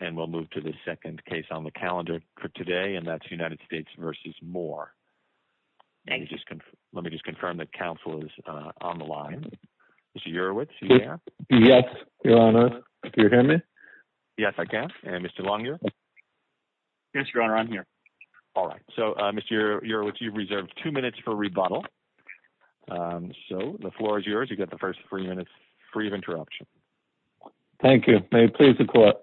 and we'll move to the second case on the calendar for today, and that's United States v. Moore. Let me just confirm that counsel is on the line. Mr. Urowitz, do you hear me? Yes, Your Honor. Can you hear me? Yes, I can. And Mr. Longyear? Yes, Your Honor. I'm here. All right. So, Mr. Urowitz, you've reserved two minutes for rebuttal. So, the floor is yours. You get the first three minutes free of interruption. Thank you. May it please the court.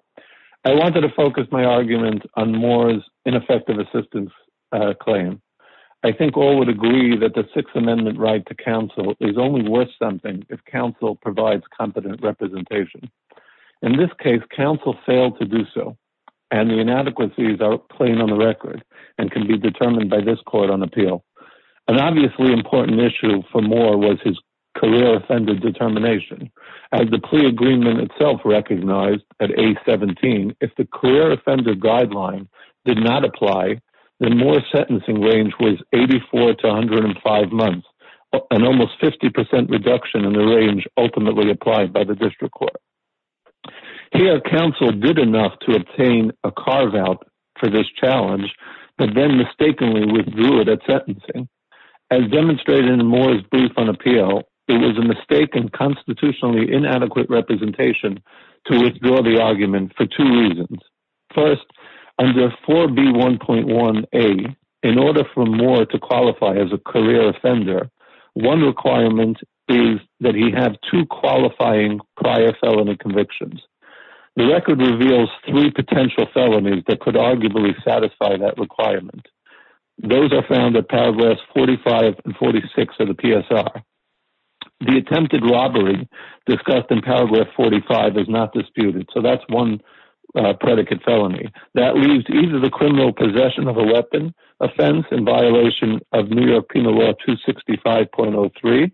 I wanted to focus my argument on Moore's ineffective assistance claim. I think all would agree that the Sixth Amendment right to counsel is only worth something if counsel provides competent representation. In this case, counsel failed to do so, and the inadequacies are plain on the record and can be determined by this court on appeal. An obviously important issue for Moore was his career offender determination. As the plea agreement itself recognized at A17, if the career offender guideline did not apply, then Moore's sentencing range was 84 to 105 months, an almost 50 percent reduction in the range ultimately applied by the district court. Here, counsel did enough to obtain a carve-out for this challenge, but then mistakenly withdrew it at sentencing. As demonstrated in Moore's brief on appeal, it was a mistaken constitutionally inadequate representation to withdraw the argument for two reasons. First, under 4B1.1a, in order for Moore to qualify as a career offender, one requirement is that he have two qualifying prior felony convictions. The record reveals three potential felonies that could arguably satisfy that requirement. Those are found at paragraphs 45 and 46 of the PSR. The attempted robbery discussed in paragraph 45 is not disputed, so that's one predicate felony. That leaves either the criminal possession of a weapon, offense, and violation of New York Penal Law 265.03.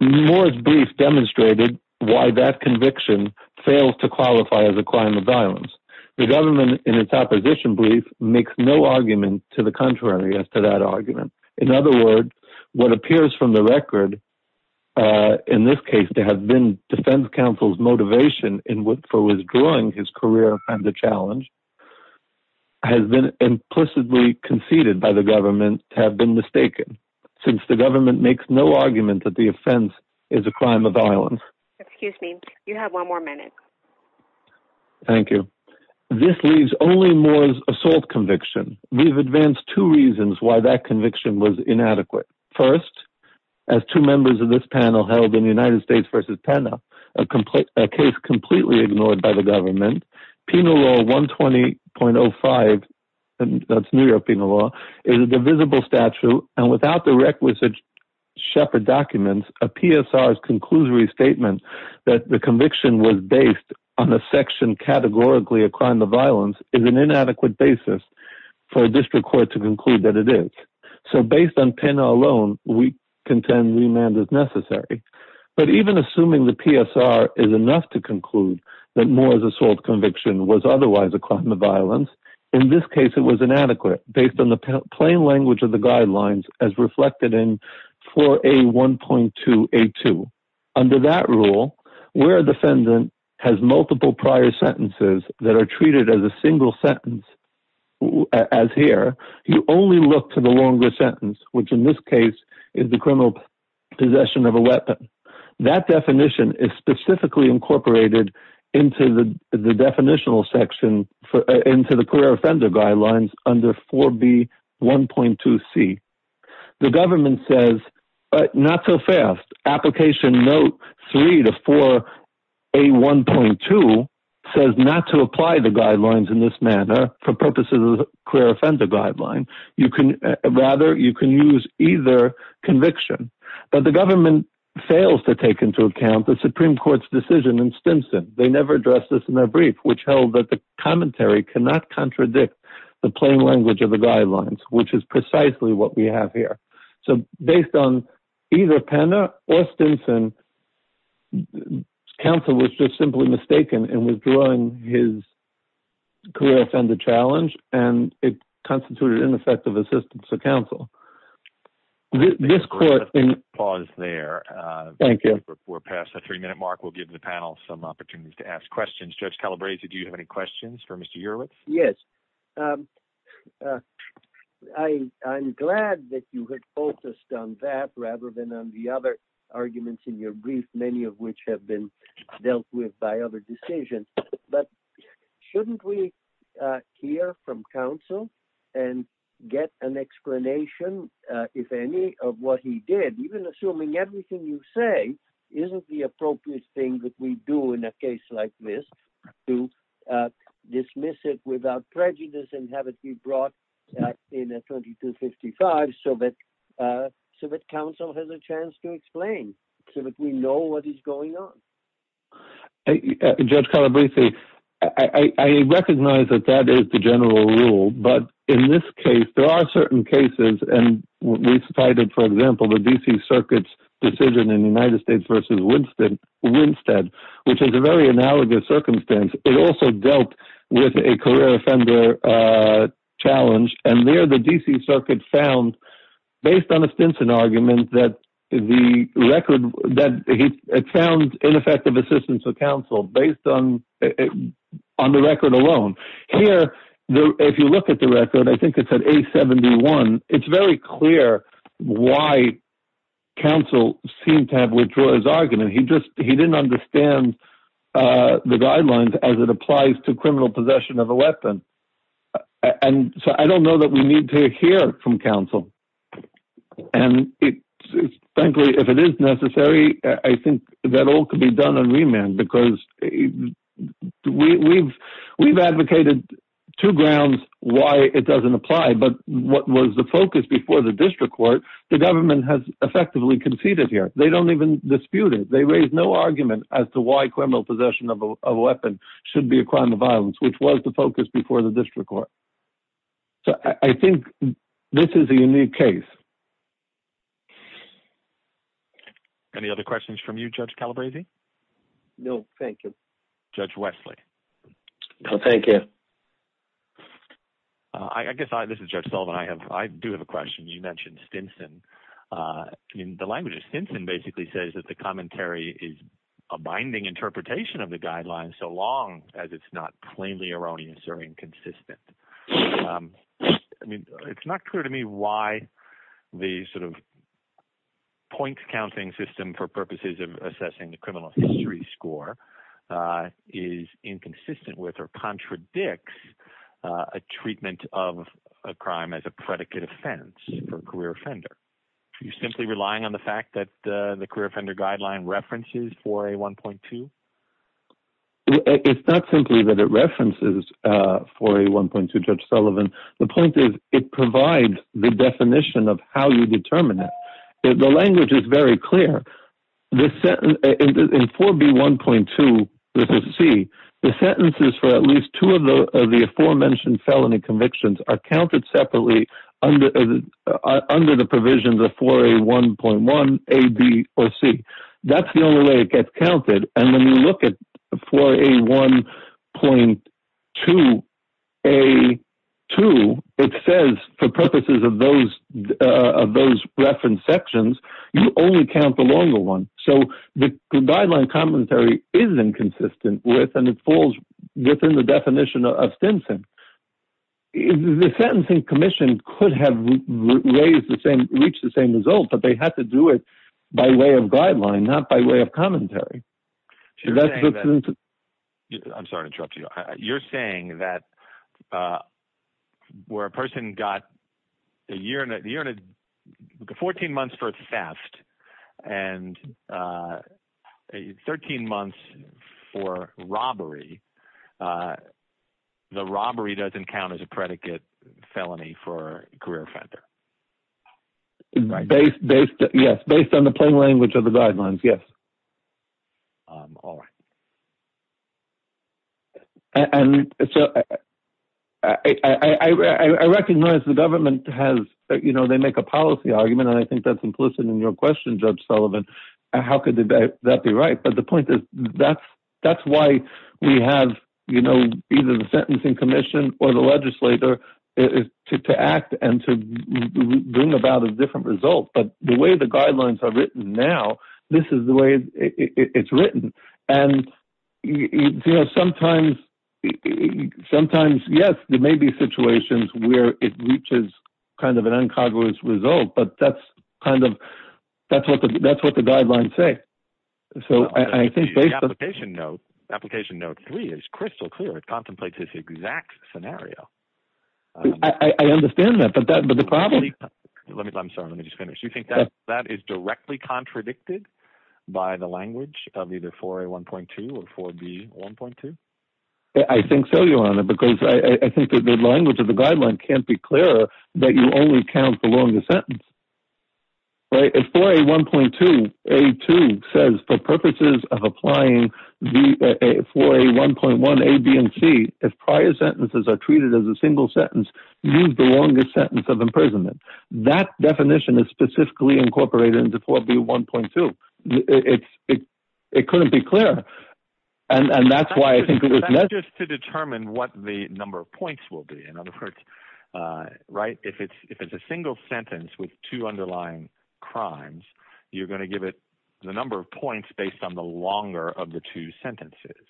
Moore's brief demonstrated why that conviction fails to qualify as a crime of violence. The government, in its opposition brief, makes no argument to the contrary as to that argument. In other words, what appears from the record, in this case to have been defense counsel's motivation for withdrawing his career from the challenge, has been implicitly conceded by the government to have been mistaken, since the government makes no argument that the offense is a crime of violence. Excuse me, you have one more minute. Thank you. This leaves only Moore's assault conviction. We've advanced two reasons why that conviction was inadequate. First, as two members of this panel held in United States v. Pena, a case completely ignored by the government, Penal Law 120.05, that's New York Penal Law, is a divisible statute, and without the requisite shepherd documents, a PSR's conclusory statement that the conviction was based on a section categorically a crime of violence is an inadequate basis. For a district court to conclude that it is. So based on Pena alone, we contend remand is necessary. But even assuming the PSR is enough to conclude that Moore's assault conviction was otherwise a crime of violence, in this case it was inadequate, based on the plain language of the guidelines as reflected in 4A.1.2.A.2. Under that rule, where a defendant has multiple prior sentences that are treated as a single sentence, as here, you only look to the longer sentence, which in this case is the criminal possession of a weapon. That definition is specifically incorporated into the definitional section, into the career offender guidelines under 4B.1.2.C. The government says, not so fast, application note 3 to 4A.1.2 says not to apply the guidelines in this manner for purposes of the career offender guideline. Rather, you can use either conviction. But the government fails to take into account the Supreme Court's decision in Stimson. They never addressed this in their brief, which held that the commentary cannot contradict the plain language of the guidelines, which is precisely what we have here. So based on either Pena or Stimson, counsel was just simply mistaken in withdrawing his career offender challenge, and it constituted ineffective assistance to counsel. Let's pause there. Thank you. We're past the three-minute mark. We'll give the panel some opportunities to ask questions. Judge Calabresi, do you have any questions for Mr. Urwitz? Yes. I'm glad that you had focused on that rather than on the other arguments in your brief, many of which have been dealt with by other decisions. But shouldn't we hear from counsel and get an explanation, if any, of what he did? Even assuming everything you say isn't the appropriate thing that we do in a case like this, to dismiss it without prejudice and have it be brought in a 2255 so that counsel has a chance to explain, so that we know what is going on. Judge Calabresi, I recognize that that is the general rule. But in this case, there are certain cases, and we cited, for example, the D.C. Circuit's decision in the United States v. Winstead, which is a very analogous circumstance. It also dealt with a career offender challenge. And there, the D.C. Circuit found, based on a Stinson argument, that it found ineffective assistance of counsel, based on the record alone. Here, if you look at the record, I think it's at A71. It's very clear why counsel seemed to have withdrawn his argument. He didn't understand the guidelines as it applies to criminal possession of a weapon. And so I don't know that we need to hear from counsel. And frankly, if it is necessary, I think that all could be done on remand, because we've advocated two grounds why it doesn't apply. But what was the focus before the district court, the government has effectively conceded here. They don't even dispute it. They raise no argument as to why criminal possession of a weapon should be a crime of violence, which was the focus before the district court. So I think this is a unique case. Any other questions from you, Judge Calabresi? No, thank you. Judge Wesley? No, thank you. I guess I, this is Judge Sullivan, I do have a question. You mentioned Stinson. The language of Stinson basically says that the commentary is a binding interpretation of the guidelines so long as it's not plainly erroneous or inconsistent. I mean, it's not clear to me why the sort of points counting system for purposes of assessing the criminal history score is inconsistent with or contradicts a treatment of a crime as a predicate offense for a career offender. You're simply relying on the fact that the career offender guideline references 4A1.2? It's not simply that it references 4A1.2, Judge Sullivan. The point is it provides the definition of how you determine it. The language is very clear. In 4B1.2, this is C, the sentences for at least two of the aforementioned felony convictions are counted separately under the provisions of 4A1.1, A, B, or C. That's the only way it gets counted. And when you look at 4A1.2, A, 2, it says for purposes of those reference sections, you only count the longer one. So the guideline commentary is inconsistent with and it falls within the definition of Stinson. The sentencing commission could have reached the same result, but they had to do it by way of guideline, not by way of commentary. I'm sorry to interrupt you. You're saying that where a person got 14 months for theft and 13 months for robbery, the robbery doesn't count as a predicate felony for a career offender? Based on the plain language of the guidelines, yes. All right. I recognize the government has, you know, they make a policy argument, and I think that's implicit in your question, Judge Sullivan. How could that be right? But the point is that's why we have, you know, either the sentencing commission or the legislator to act and to bring about a different result. But the way the guidelines are written now, this is the way it's written. And, you know, sometimes, yes, there may be situations where it reaches kind of an uncognizant result, but that's kind of, that's what the guidelines say. Application note three is crystal clear. It contemplates this exact scenario. I understand that. I'm sorry. Let me just finish. You think that that is directly contradicted by the language of either 4A1.2 or 4B1.2? I think so, Your Honor, because I think that the language of the guideline can't be clearer that you only count the longest sentence. Right. If 4A1.2A2 says for purposes of applying 4A1.1A, B, and C, if prior sentences are treated as a single sentence, use the longest sentence of imprisonment. That definition is specifically incorporated into 4B1.2. It couldn't be clearer, and that's why I think it was necessary. Just to determine what the number of points will be. In other words, right, if it's a single sentence with two underlying crimes, you're going to give it the number of points based on the longer of the two sentences.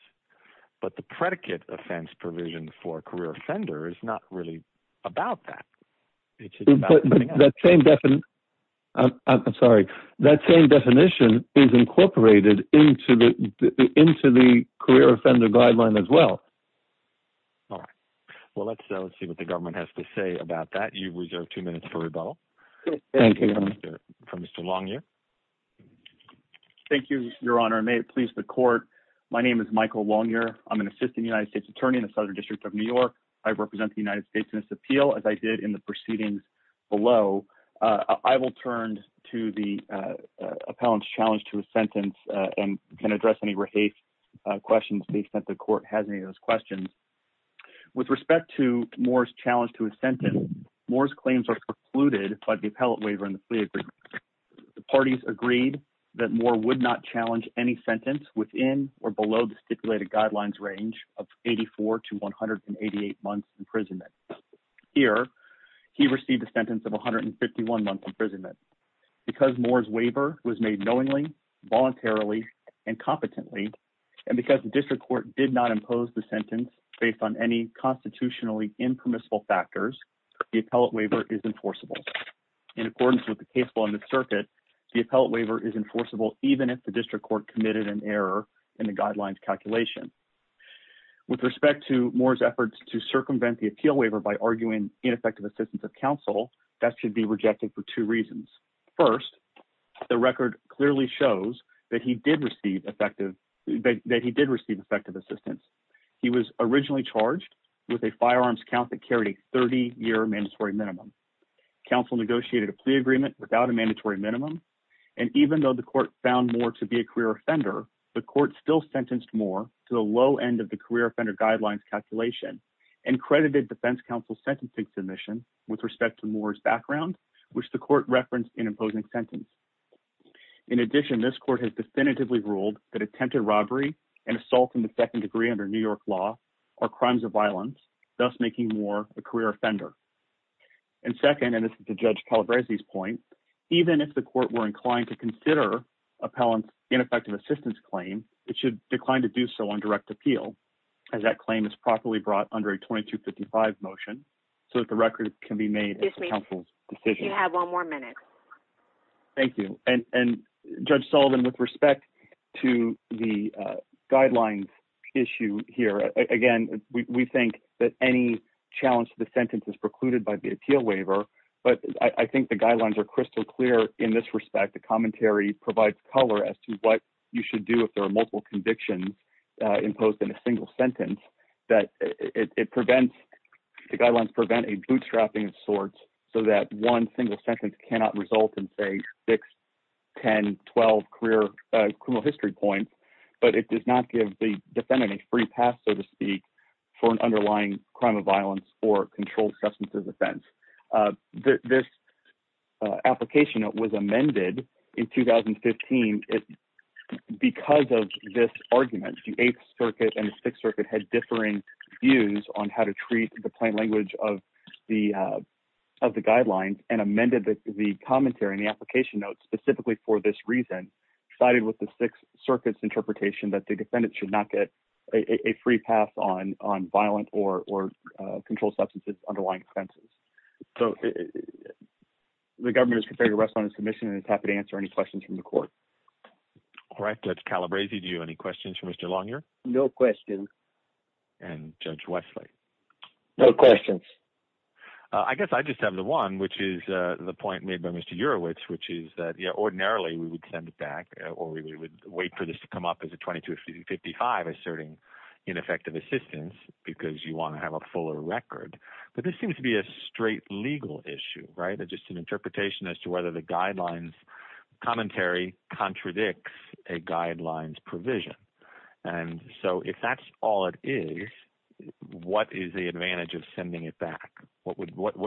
But the predicate offense provision for a career offender is not really about that. I'm sorry. That same definition is incorporated into the career offender guideline as well. All right. Well, let's see what the government has to say about that. You reserve two minutes for rebuttal. Thank you. From Mr. Longyear. Thank you, Your Honor. May it please the court. My name is Michael Longyear. I'm an assistant United States attorney in the Southern District of New York. I represent the United States in this appeal, as I did in the proceedings below. I will turn to the appellant's challenge to a sentence and can address any questions based on if the court has any of those questions. With respect to Moore's challenge to a sentence, Moore's claims are precluded by the appellate waiver and the plea agreement. The parties agreed that Moore would not challenge any sentence within or below the stipulated guidelines range of 84 to 188 months imprisonment. Here, he received a sentence of 151 months imprisonment. Because Moore's waiver was made knowingly, voluntarily, and competently, and because the district court did not impose the sentence based on any constitutionally impermissible factors, the appellate waiver is enforceable. In accordance with the case law in the circuit, the appellate waiver is enforceable even if the district court committed an error in the guidelines calculation. With respect to Moore's efforts to circumvent the appeal waiver by arguing ineffective assistance of counsel, that should be rejected for two reasons. First, the record clearly shows that he did receive effective assistance. He was originally charged with a firearms count that carried a 30-year mandatory minimum. Counsel negotiated a plea agreement without a mandatory minimum. And even though the court found Moore to be a career offender, the court still sentenced Moore to the low end of the career offender guidelines calculation and credited defense counsel's sentencing submission with respect to Moore's background, which the court referenced in imposing sentence. In addition, this court has definitively ruled that attempted robbery and assault in the second degree under New York law are crimes of violence, thus making Moore a career offender. And second, and this is to Judge Calabresi's point, even if the court were inclined to consider appellant's ineffective assistance claim, it should decline to do so on direct appeal, as that claim is properly brought under a 2255 motion so that the record can be made as counsel's decision. You have one more minute. Thank you. And Judge Sullivan, with respect to the guidelines issue here, again, we think that any challenge to the sentence is precluded by the appeal waiver, but I think the guidelines are crystal clear in this respect. The commentary provides color as to what you should do if there are multiple convictions imposed in a single sentence, that it prevents, the guidelines prevent a bootstrapping of sorts, so that one single sentence cannot result in, say, six, 10, 12 career criminal history points. But it does not give the defendant a free pass, so to speak, for an underlying crime of violence or controlled substance offense. This application that was amended in 2015, because of this argument, the Eighth Circuit and the Sixth Circuit had differing views on how to treat the plain language of the guidelines and amended the commentary and the application notes specifically for this reason, sided with the Sixth Circuit's interpretation that the defendant should not get a free pass on violent or controlled substances underlying offenses. So the government is prepared to rest on its commission and is happy to answer any questions from the court. All right, Judge Calabresi, do you have any questions for Mr. Longyear? No questions. And Judge Wesley? No questions. I guess I just have the one, which is the point made by Mr. Urowitz, which is that ordinarily we would send it back or we would wait for this to come up as a 2255 asserting ineffective assistance because you want to have a fuller record. But this seems to be a straight legal issue, right? Just an interpretation as to whether the guidelines commentary contradicts a guidelines provision. And so if that's all it is, what is the advantage of sending it back? What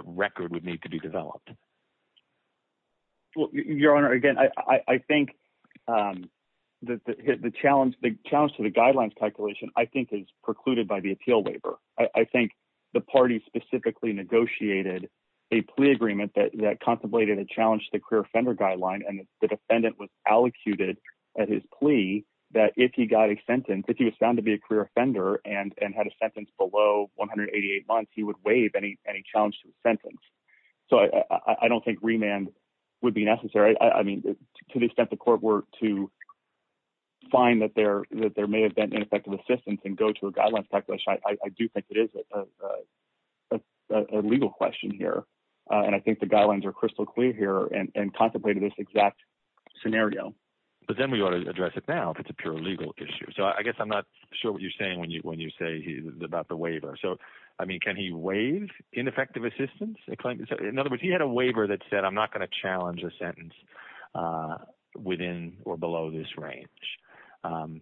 record would need to be developed? Your Honor, again, I think the challenge to the guidelines calculation, I think, is precluded by the appeal waiver. I think the party specifically negotiated a plea agreement that contemplated a challenge to the career offender guideline. And the defendant was allocated at his plea that if he got a sentence, if he was found to be a career offender and had a sentence below 188 months, he would waive any challenge to the sentence. So I don't think remand would be necessary. I mean, to the extent the court were to find that there may have been ineffective assistance and go to a guidelines calculation, I do think it is a legal question here. And I think the guidelines are crystal clear here and contemplated this exact scenario. But then we ought to address it now if it's a pure legal issue. So I guess I'm not sure what you're saying when you say about the waiver. So, I mean, can he waive ineffective assistance? In other words, he had a waiver that said I'm not going to challenge a sentence within or below this range.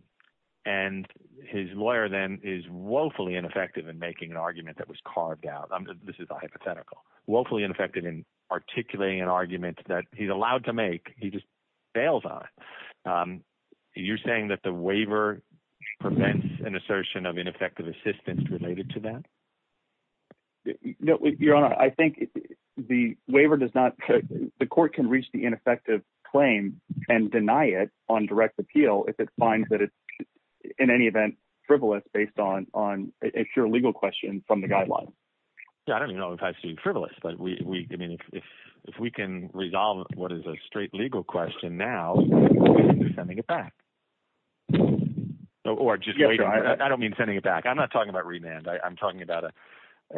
And his lawyer then is woefully ineffective in making an argument that was carved out. This is a hypothetical. Woefully ineffective in articulating an argument that he's allowed to make. He just fails on it. You're saying that the waiver prevents an assertion of ineffective assistance related to that? No, Your Honor. I think the waiver does not – the court can reach the ineffective claim and deny it on direct appeal if it finds that it's in any event frivolous based on a pure legal question from the guidelines. I don't even know if I've seen frivolous. But if we can resolve what is a straight legal question now, we should be sending it back or just waiting for it. I don't mean sending it back. I'm not talking about remand. I'm talking about a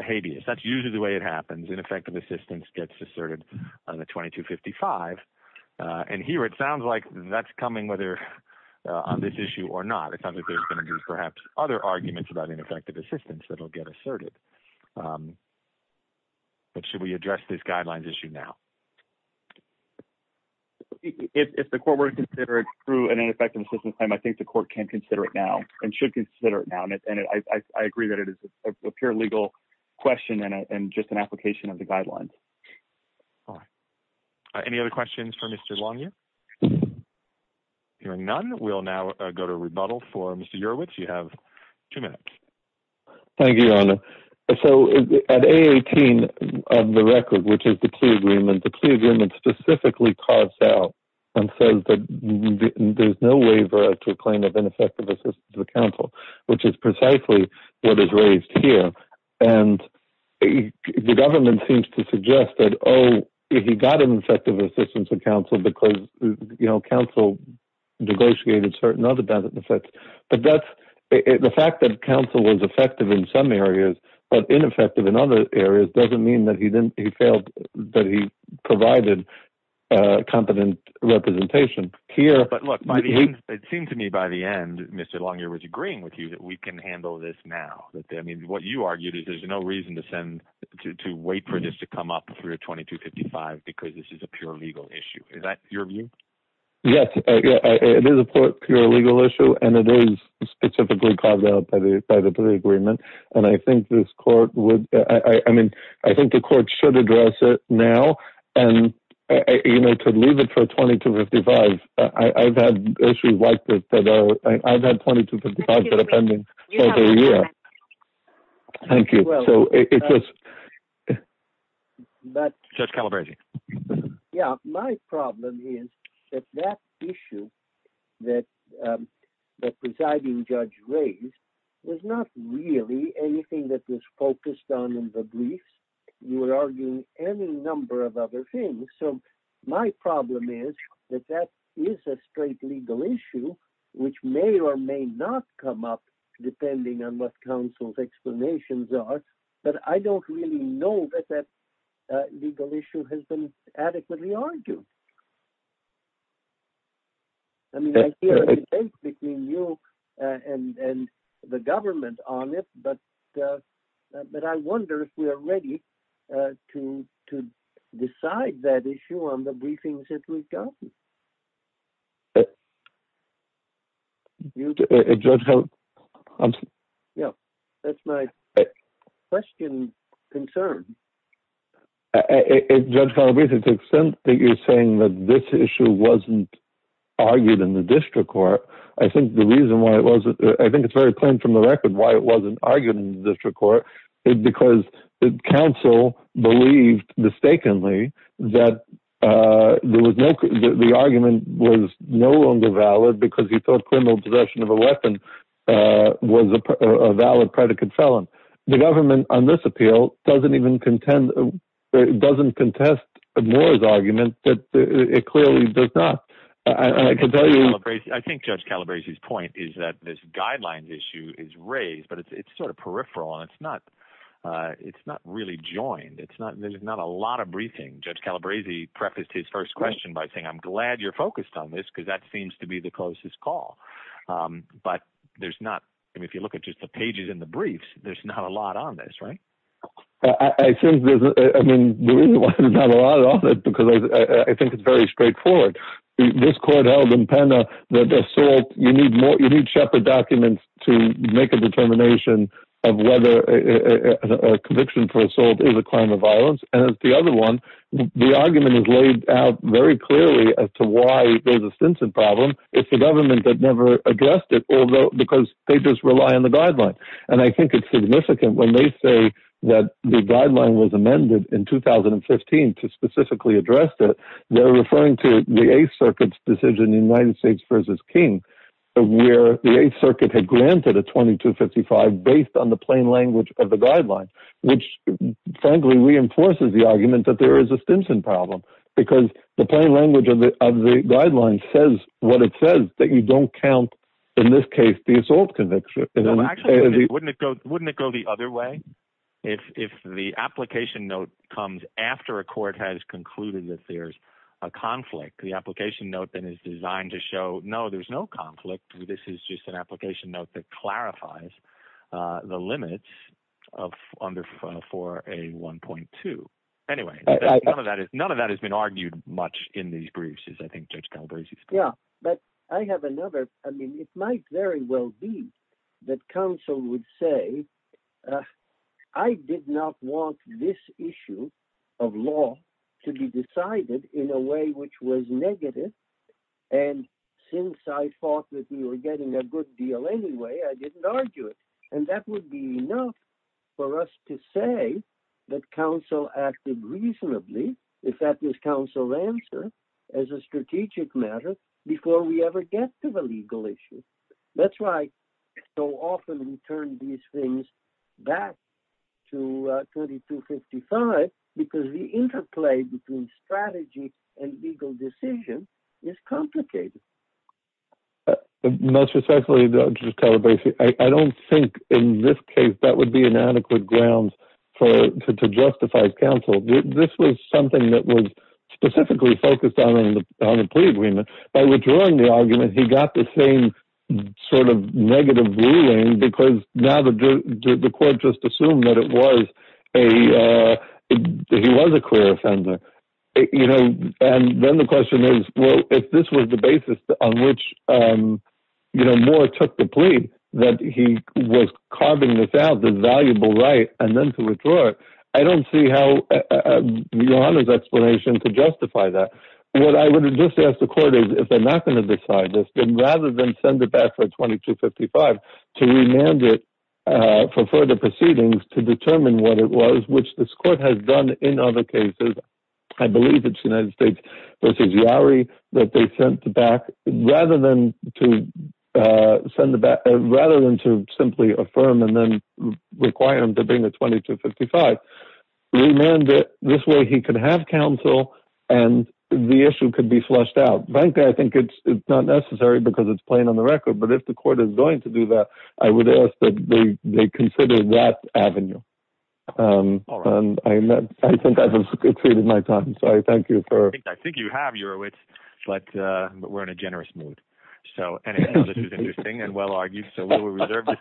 habeas. That's usually the way it happens. Ineffective assistance gets asserted on the 2255. And here it sounds like that's coming whether on this issue or not. It sounds like there's going to be perhaps other arguments about ineffective assistance that will get asserted. But should we address this guidelines issue now? If the court were to consider it through an ineffective assistance claim, I think the court can consider it now and should consider it now. And I agree that it is a pure legal question and just an application of the guidelines. All right. Any other questions for Mr. Longyear? Hearing none, we'll now go to rebuttal for Mr. Urwitz. Thank you, Your Honor. So, at A18 of the record, which is the plea agreement, the plea agreement specifically carves out and says that there's no waiver to a claim of ineffective assistance to the counsel, which is precisely what is raised here. And the government seems to suggest that, oh, he got an effective assistance to counsel because, you know, counsel negotiated certain other benefits. But the fact that counsel was effective in some areas but ineffective in other areas doesn't mean that he provided competent representation. But, look, it seems to me by the end, Mr. Longyear was agreeing with you that we can handle this now. I mean, what you argued is there's no reason to wait for this to come up through 2255 because this is a pure legal issue. Is that your view? Yes. It is a pure legal issue, and it is specifically carved out by the plea agreement. And I think this court would – I mean, I think the court should address it now. And, you know, to leave it for 2255, I've had issues like this that are – I've had 2255 that are pending over a year. Thank you. So, it's just – Judge Calabresi. Yeah. My problem is that that issue that the presiding judge raised was not really anything that was focused on in the briefs. You were arguing any number of other things. So, my problem is that that is a straight legal issue which may or may not come up depending on what counsel's explanations are. But I don't really know that that legal issue has been adequately argued. I mean, I hear a debate between you and the government on it, but I wonder if we are ready to decide that issue on the briefings that we've gotten. Judge Calabresi. Yeah. That's my question concern. Judge Calabresi, to the extent that you're saying that this issue wasn't argued in the district court, I think the reason why it wasn't – I think it's very plain from the record why it wasn't argued in the district court. It's because counsel believed mistakenly that the argument was no longer valid because he thought criminal possession of a weapon was a valid predicate felon. The government on this appeal doesn't even contend – doesn't contest Moore's argument that it clearly does not. And I can tell you – I think Judge Calabresi's point is that this guidelines issue is raised, but it's sort of peripheral and it's not really joined. There's not a lot of briefing. Judge Calabresi prefaced his first question by saying, I'm glad you're focused on this because that seems to be the closest call. But there's not – I mean if you look at just the pages and the briefs, there's not a lot on this, right? I think there's – I mean the reason why there's not a lot on it is because I think it's very straightforward. This court held in Penna that assault – you need more – you need Shepard documents to make a determination of whether a conviction for assault is a crime of violence. And as the other one, the argument is laid out very clearly as to why there's a Stinson problem. It's the government that never addressed it, although – because they just rely on the guidelines. And I think it's significant when they say that the guideline was amended in 2015 to specifically address it. They're referring to the Eighth Circuit's decision, United States v. King, where the Eighth Circuit had granted a 2255 based on the plain language of the guideline. Which frankly reinforces the argument that there is a Stinson problem because the plain language of the guideline says what it says, that you don't count in this case the assault conviction. Wouldn't it go the other way if the application note comes after a court has concluded that there's a conflict? The application note then is designed to show, no, there's no conflict. This is just an application note that clarifies the limits of – under 4A1.2. Anyway, none of that has been argued much in these briefs as I think Judge Galbraith has. Yeah, but I have another – I mean, it might very well be that counsel would say, I did not want this issue of law to be decided in a way which was negative. And since I thought that we were getting a good deal anyway, I didn't argue it. And that would be enough for us to say that counsel acted reasonably, if that was counsel's answer, as a strategic matter before we ever get to the legal issue. That's why so often we turn these things back to 2255 because the interplay between strategy and legal decision is complicated. Most respectfully, Judge Galbraith, I don't think in this case that would be an adequate ground to justify counsel. This was something that was specifically focused on a plea agreement. By withdrawing the argument, he got the same sort of negative ruling because now the court just assumed that it was a – he was a clear offender. And then the question is, well, if this was the basis on which Moore took the plea that he was carving this out as a valuable right and then to withdraw it, I don't see how your Honor's explanation could justify that. What I would have just asked the court is, if they're not going to decide this, then rather than send it back for 2255 to remand it for further proceedings to determine what it was, which this court has done in other cases – I believe it's the United States v. Yowery that they sent back – rather than to simply affirm and then require him to bring the 2255, remand it. This way he could have counsel, and the issue could be flushed out. Frankly, I think it's not necessary because it's plain on the record, but if the court is going to do that, I would ask that they consider that avenue. I think I've exceeded my time, so I thank you for – I think you have, Eurowitz, but we're in a generous mood. So anyhow, this was interesting and well-argued, so we will reserve the decision.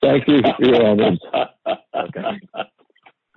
Thank you, Your Honor. Okay.